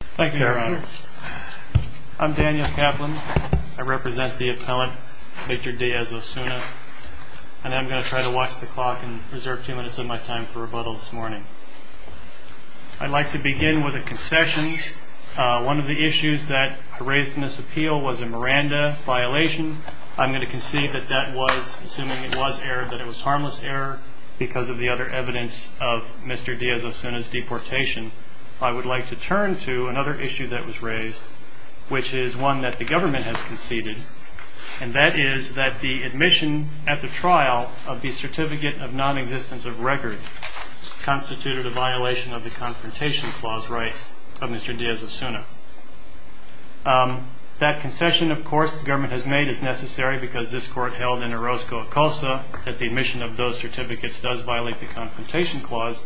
Thank you, Your Honor. I'm Daniel Kaplan. I represent the appellant, Victor Diaz-Ozuna, and I'm going to try to watch the clock and reserve two minutes of my time for rebuttal this morning. I'd like to begin with a concession. One of the issues that I raised in this appeal was a Miranda violation. I'm going to concede that that was, assuming it was error, that it was harmless error because of the other evidence of Mr. Diaz-Ozuna's deportation. I would like to turn to another issue that was raised, which is one that the government has conceded, and that is that the admission at the trial of the Certificate of Non-Existence of Record constituted a violation of the Confrontation Clause rights of Mr. Diaz-Ozuna. That concession, of course, the government has made is necessary because this Court held in Orozco-Acosta that the admission of those certificates does violate the Confrontation Clause.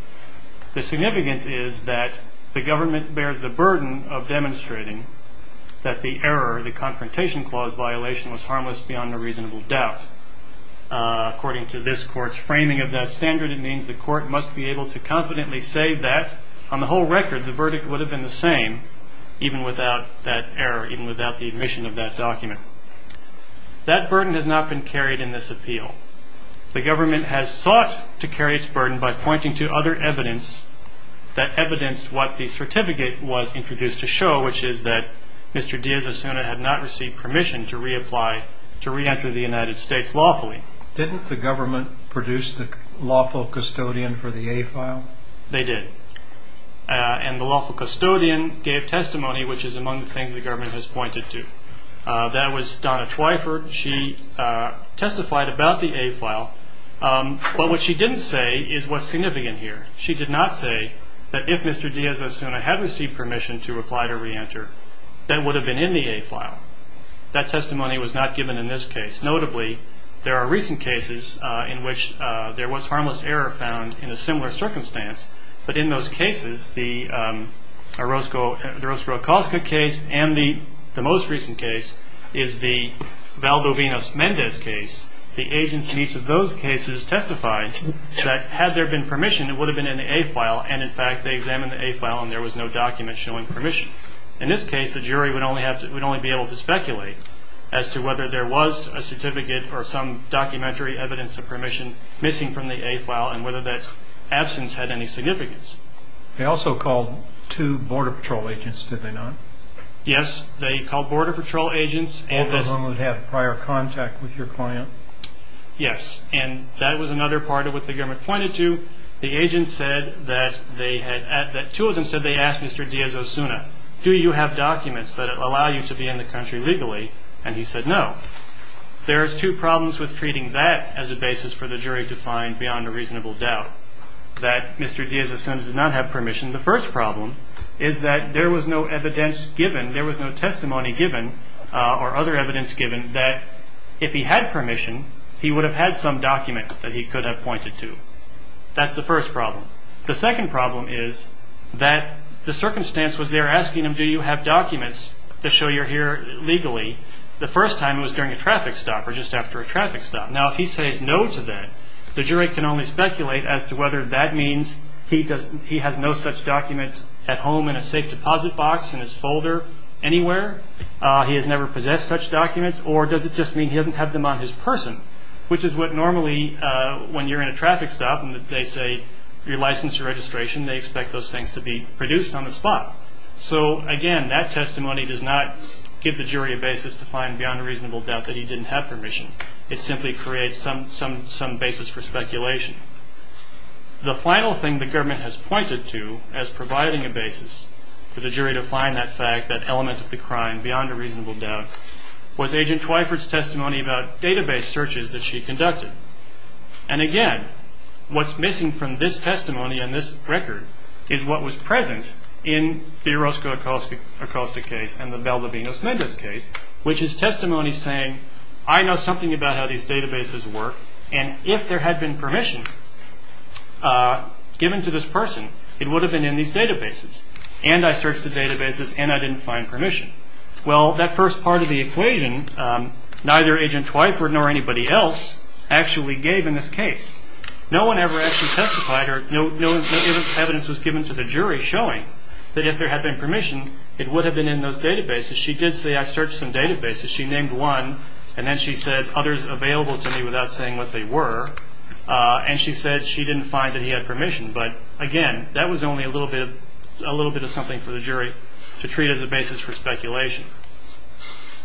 The significance is that the government bears the burden of demonstrating that the error, the Confrontation Clause violation, was harmless beyond a reasonable doubt. According to this Court's framing of that standard, it means the Court must be able to confidently say that, on the whole record, the verdict would have been the same, even without that error, even without the admission of that document. That burden has not been carried in this appeal. The government has sought to carry its burden by pointing to other evidence that evidenced what the certificate was introduced to show, which is that Mr. Diaz-Ozuna had not received permission to reapply, to re-enter the United States lawfully. Didn't the government produce the lawful custodian for the A file? They did, and the lawful custodian gave testimony, which is among the things the government has pointed to. That was Donna Twyford. She testified about the A file, but what she didn't say is what's significant here. She did not say that if Mr. Diaz-Ozuna had received permission to apply to re-enter, that it would have been in the A file. That testimony was not given in this case. Notably, there are recent cases in which there was harmless error found in a similar circumstance, but in those cases, the Roscoe-Okoska case and the most recent case is the Valdovinos-Mendez case. The agents in each of those cases testified that had there been permission, it would have been in the A file, and in fact they examined the A file and there was no document showing permission. In this case, the jury would only be able to speculate as to whether there was a certificate or some documentary evidence of permission missing from the A file and whether that absence had any significance. They also called two Border Patrol agents, did they not? Yes, they called Border Patrol agents. All of whom would have prior contact with your client? Yes, and that was another part of what the government pointed to. The agents said that two of them said they asked Mr. Diaz-Ozuna, do you have documents that allow you to be in the country legally? And he said no. There's two problems with treating that as a basis for the jury to find beyond a reasonable doubt, that Mr. Diaz-Ozuna did not have permission. The first problem is that there was no evidence given, there was no testimony given or other evidence given that if he had permission, he would have had some document that he could have pointed to. That's the first problem. The second problem is that the circumstance was they were asking him, do you have documents to show you're here legally? The first time it was during a traffic stop or just after a traffic stop. Now if he says no to that, the jury can only speculate as to whether that means he has no such documents at home in a safe deposit box in his folder anywhere, he has never possessed such documents or does it just mean he doesn't have them on his person? Which is what normally when you're in a traffic stop and they say you're licensed to registration, they expect those things to be produced on the spot. So again, that testimony does not give the jury a basis to find beyond a reasonable doubt that he didn't have permission. It simply creates some basis for speculation. The final thing the government has pointed to as providing a basis for the jury to find that fact, that element of the crime beyond a reasonable doubt, was Agent Twyford's testimony about database searches that she conducted. And again, what's missing from this testimony and this record is what was present in the Orozco-Acosta case and the Bell-Lavignos-Mendez case, which is testimony saying I know something about how these databases work and if there had been permission given to this person, it would have been in these databases. And I searched the databases and I didn't find permission. Well, that first part of the equation, neither Agent Twyford nor anybody else actually gave in this case. No one ever actually testified or no evidence was given to the jury showing that if there had been permission, it would have been in those databases. She did say I searched some databases. She named one and then she said others available to me without saying what they were. And she said she didn't find that he had permission. But again, that was only a little bit of something for the jury to treat as a basis for speculation.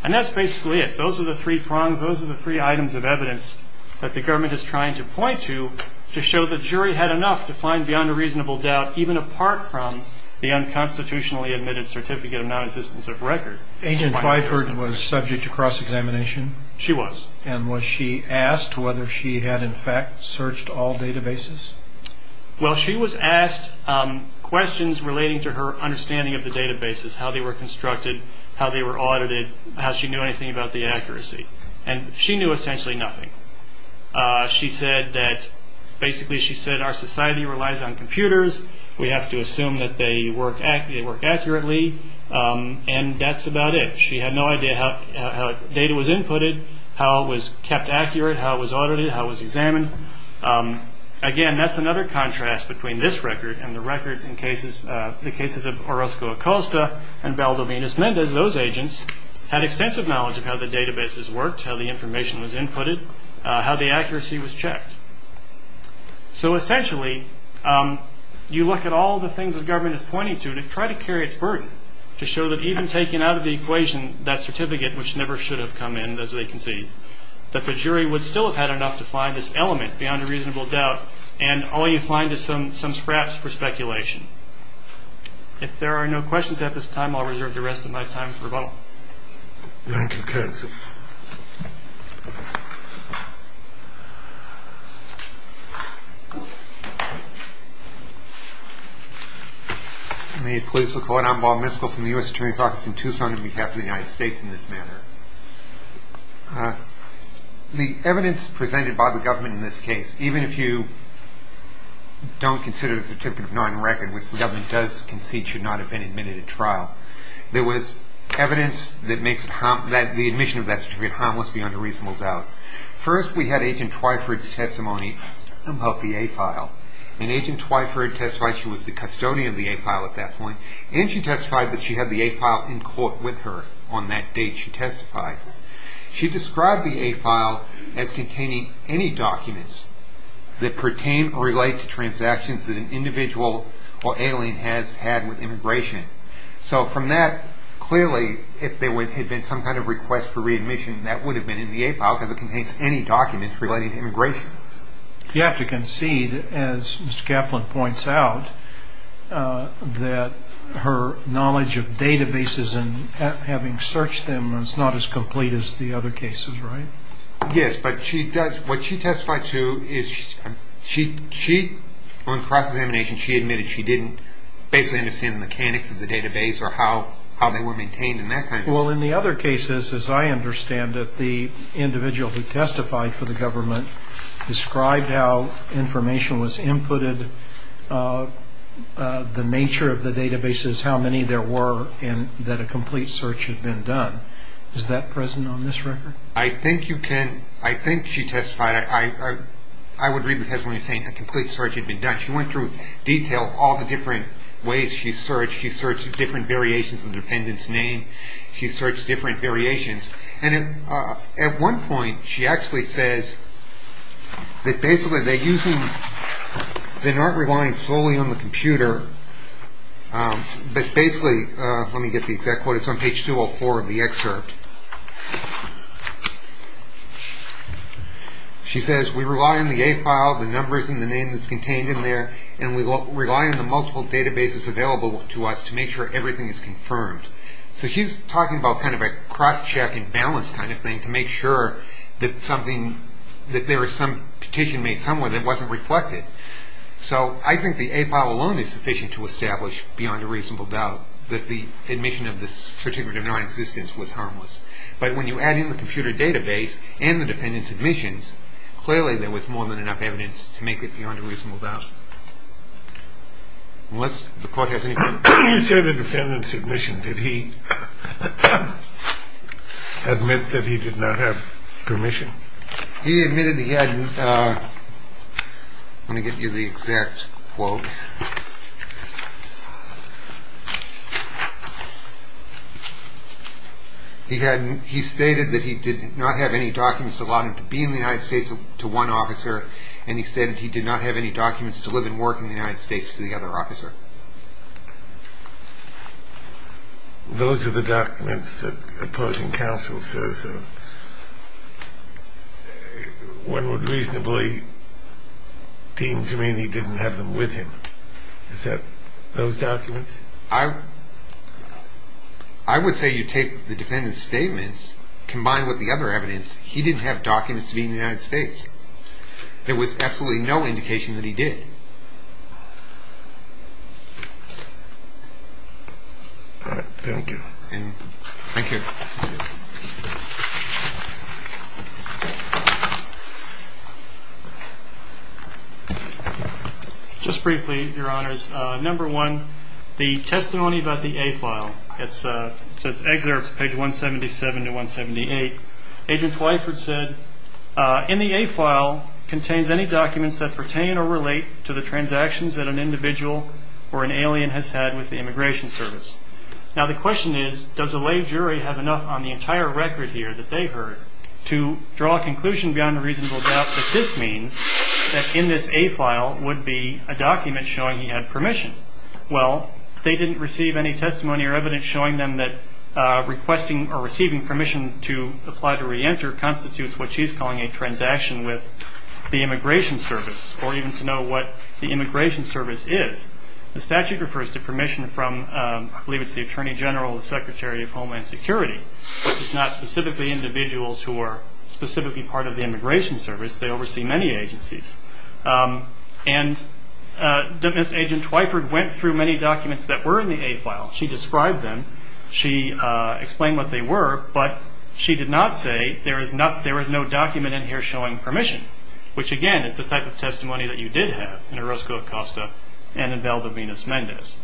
And that's basically it. Those are the three prongs, those are the three items of evidence that the government is trying to point to to show the jury had enough to find beyond a reasonable doubt, even apart from the unconstitutionally admitted certificate of non-existence of record. Agent Twyford was subject to cross-examination? She was. And was she asked whether she had in fact searched all databases? Well, she was asked questions relating to her understanding of the databases, how they were constructed, how they were audited, how she knew anything about the accuracy. And she knew essentially nothing. She said that basically she said our society relies on computers. We have to assume that they work accurately. And that's about it. She had no idea how data was inputted, how it was kept accurate, how it was audited, how it was examined. Again, that's another contrast between this record and the records in cases, the cases of Orozco Acosta and Valdomir Nismendez. Those agents had extensive knowledge of how the databases worked, how the information was inputted, how the accuracy was checked. So essentially, you look at all the things the government is pointing to and try to carry its burden to show that even taking out of the equation that certificate, which never should have come in, as they concede, that the jury would still have had enough to find this element beyond a reasonable doubt, and all you find is some scraps for speculation. If there are no questions at this time, I'll reserve the rest of my time for rebuttal. Thank you, counsel. May it please the Court, I'm Bob Miskell from the U.S. Attorney's Office in Tucson on behalf of the United States in this matter. The evidence presented by the government in this case, even if you don't consider the certificate of non-record, which the government does concede should not have been admitted at trial, there was evidence that makes the admission of that certificate harmless beyond a reasonable doubt. First, we had Agent Twyford's testimony about the A-file, and Agent Twyford testified she was the custodian of the A-file at that point, and she testified that she had the A-file in court with her on that date. She described the A-file as containing any documents that pertain or relate to transactions that an individual or alien has had with immigration. So from that, clearly, if there had been some kind of request for readmission, that would have been in the A-file because it contains any documents relating to immigration. You have to concede, as Mr. Kaplan points out, that her knowledge of databases and having searched them is not as complete as the other cases, right? Yes, but what she testified to is she, on cross-examination, she admitted she didn't basically understand the mechanics of the database or how they were maintained in that context. Well, in the other cases, as I understand it, the individual who testified for the government described how information was inputted, the nature of the databases, how many there were, and that a complete search had been done. Is that present on this record? I think you can. I think she testified. I would read the testimony saying a complete search had been done. She went through detail, all the different ways she searched. She searched different variations of the dependent's name. She searched different variations. At one point, she actually says that basically they're not relying solely on the computer, but basically, let me get the exact quote. It's on page 204 of the excerpt. She says, we rely on the A-file, the numbers and the name that's contained in there, and we rely on the multiple databases available to us to make sure everything is confirmed. So she's talking about kind of a cross-check and balance kind of thing to make sure that there is some petition made somewhere that wasn't reflected. So I think the A-file alone is sufficient to establish beyond a reasonable doubt that the admission of this certificate of nonexistence was harmless. But when you add in the computer database and the dependent's admissions, clearly there was more than enough evidence to make it beyond a reasonable doubt. Unless the court has any questions. When you say the defendant's admission, did he admit that he did not have permission? He admitted he hadn't. Let me get you the exact quote. He stated that he did not have any documents to allow him to be in the United States to one officer, and he stated he did not have any documents to live and work in the United States to the other officer. Those are the documents that opposing counsel says one would reasonably deem to mean he didn't have them with him. Is that those documents? I would say you take the defendant's statements combined with the other evidence. He didn't have documents to be in the United States. There was absolutely no indication that he did. All right. Thank you. Thank you. Just briefly, Your Honors, number one, the testimony about the A-file. Excerpts, page 177 to 178. Agent Twyford said, In the A-file contains any documents that pertain or relate to the transactions that an individual or an alien has had with the Immigration Service. Now, the question is, does a lay jury have enough on the entire record here that they've heard to draw a conclusion beyond a reasonable doubt that this means that in this A-file would be a document showing he had permission? Well, they didn't receive any testimony or evidence showing them that requesting or receiving permission to apply to reenter constitutes what she's calling a transaction with the Immigration Service or even to know what the Immigration Service is. The statute refers to permission from, I believe it's the Attorney General, the Secretary of Homeland Security. It's not specifically individuals who are specifically part of the Immigration Service. They oversee many agencies. And Agent Twyford went through many documents that were in the A-file. She described them. She explained what they were. But she did not say there is no document in here showing permission, which, again, is the type of testimony that you did have in Orozco-Acosta and in Valdovinas-Mendez.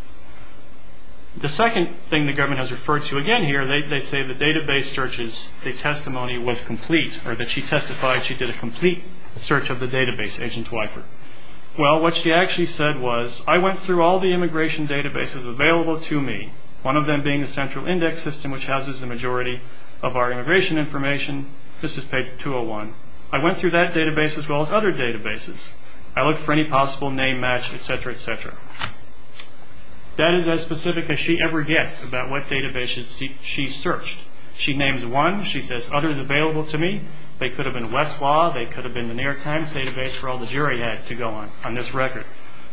The second thing the government has referred to again here, they say the database searches, the testimony was complete, or that she testified she did a complete search of the database, Agent Twyford. Well, what she actually said was, I went through all the immigration databases available to me, one of them being the Central Index System, which houses the majority of our immigration information. This is page 201. I went through that database as well as other databases. That is as specific as she ever gets about what databases she searched. She names one. She says, Others available to me. They could have been Westlaw. They could have been the New York Times database for all the jury had to go on on this record.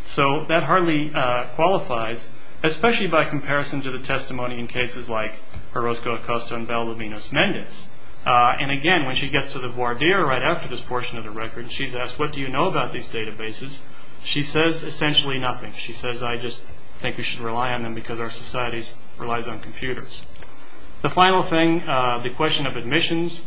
So that hardly qualifies, especially by comparison to the testimony in cases like Orozco-Acosta and Valdovinas-Mendez. And, again, when she gets to the voir dire right after this portion of the record, she's asked, What do you know about these databases? She says essentially nothing. She says, I just think we should rely on them because our society relies on computers. The final thing, the question of admissions,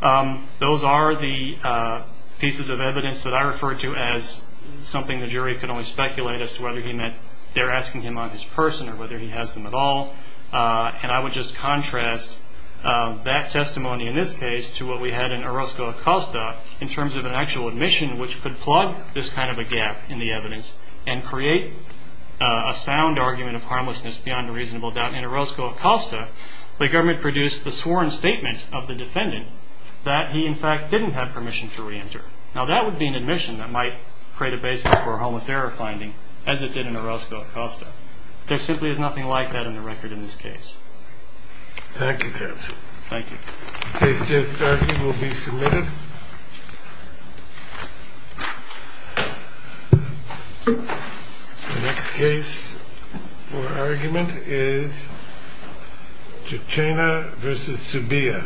those are the pieces of evidence that I refer to as something the jury could only speculate as to whether he meant they're asking him on his person or whether he has them at all. And I would just contrast that testimony in this case to what we had in Orozco-Acosta in terms of an actual admission which could plug this kind of a gap in the evidence and create a sound argument of harmlessness beyond a reasonable doubt. In Orozco-Acosta, the government produced the sworn statement of the defendant that he, in fact, didn't have permission to reenter. Now, that would be an admission that might create a basis for a homicidal finding, as it did in Orozco-Acosta. There simply is nothing like that in the record in this case. Thank you, counsel. Thank you. The case just argued will be submitted. The next case for argument is Chichena v. Zubia.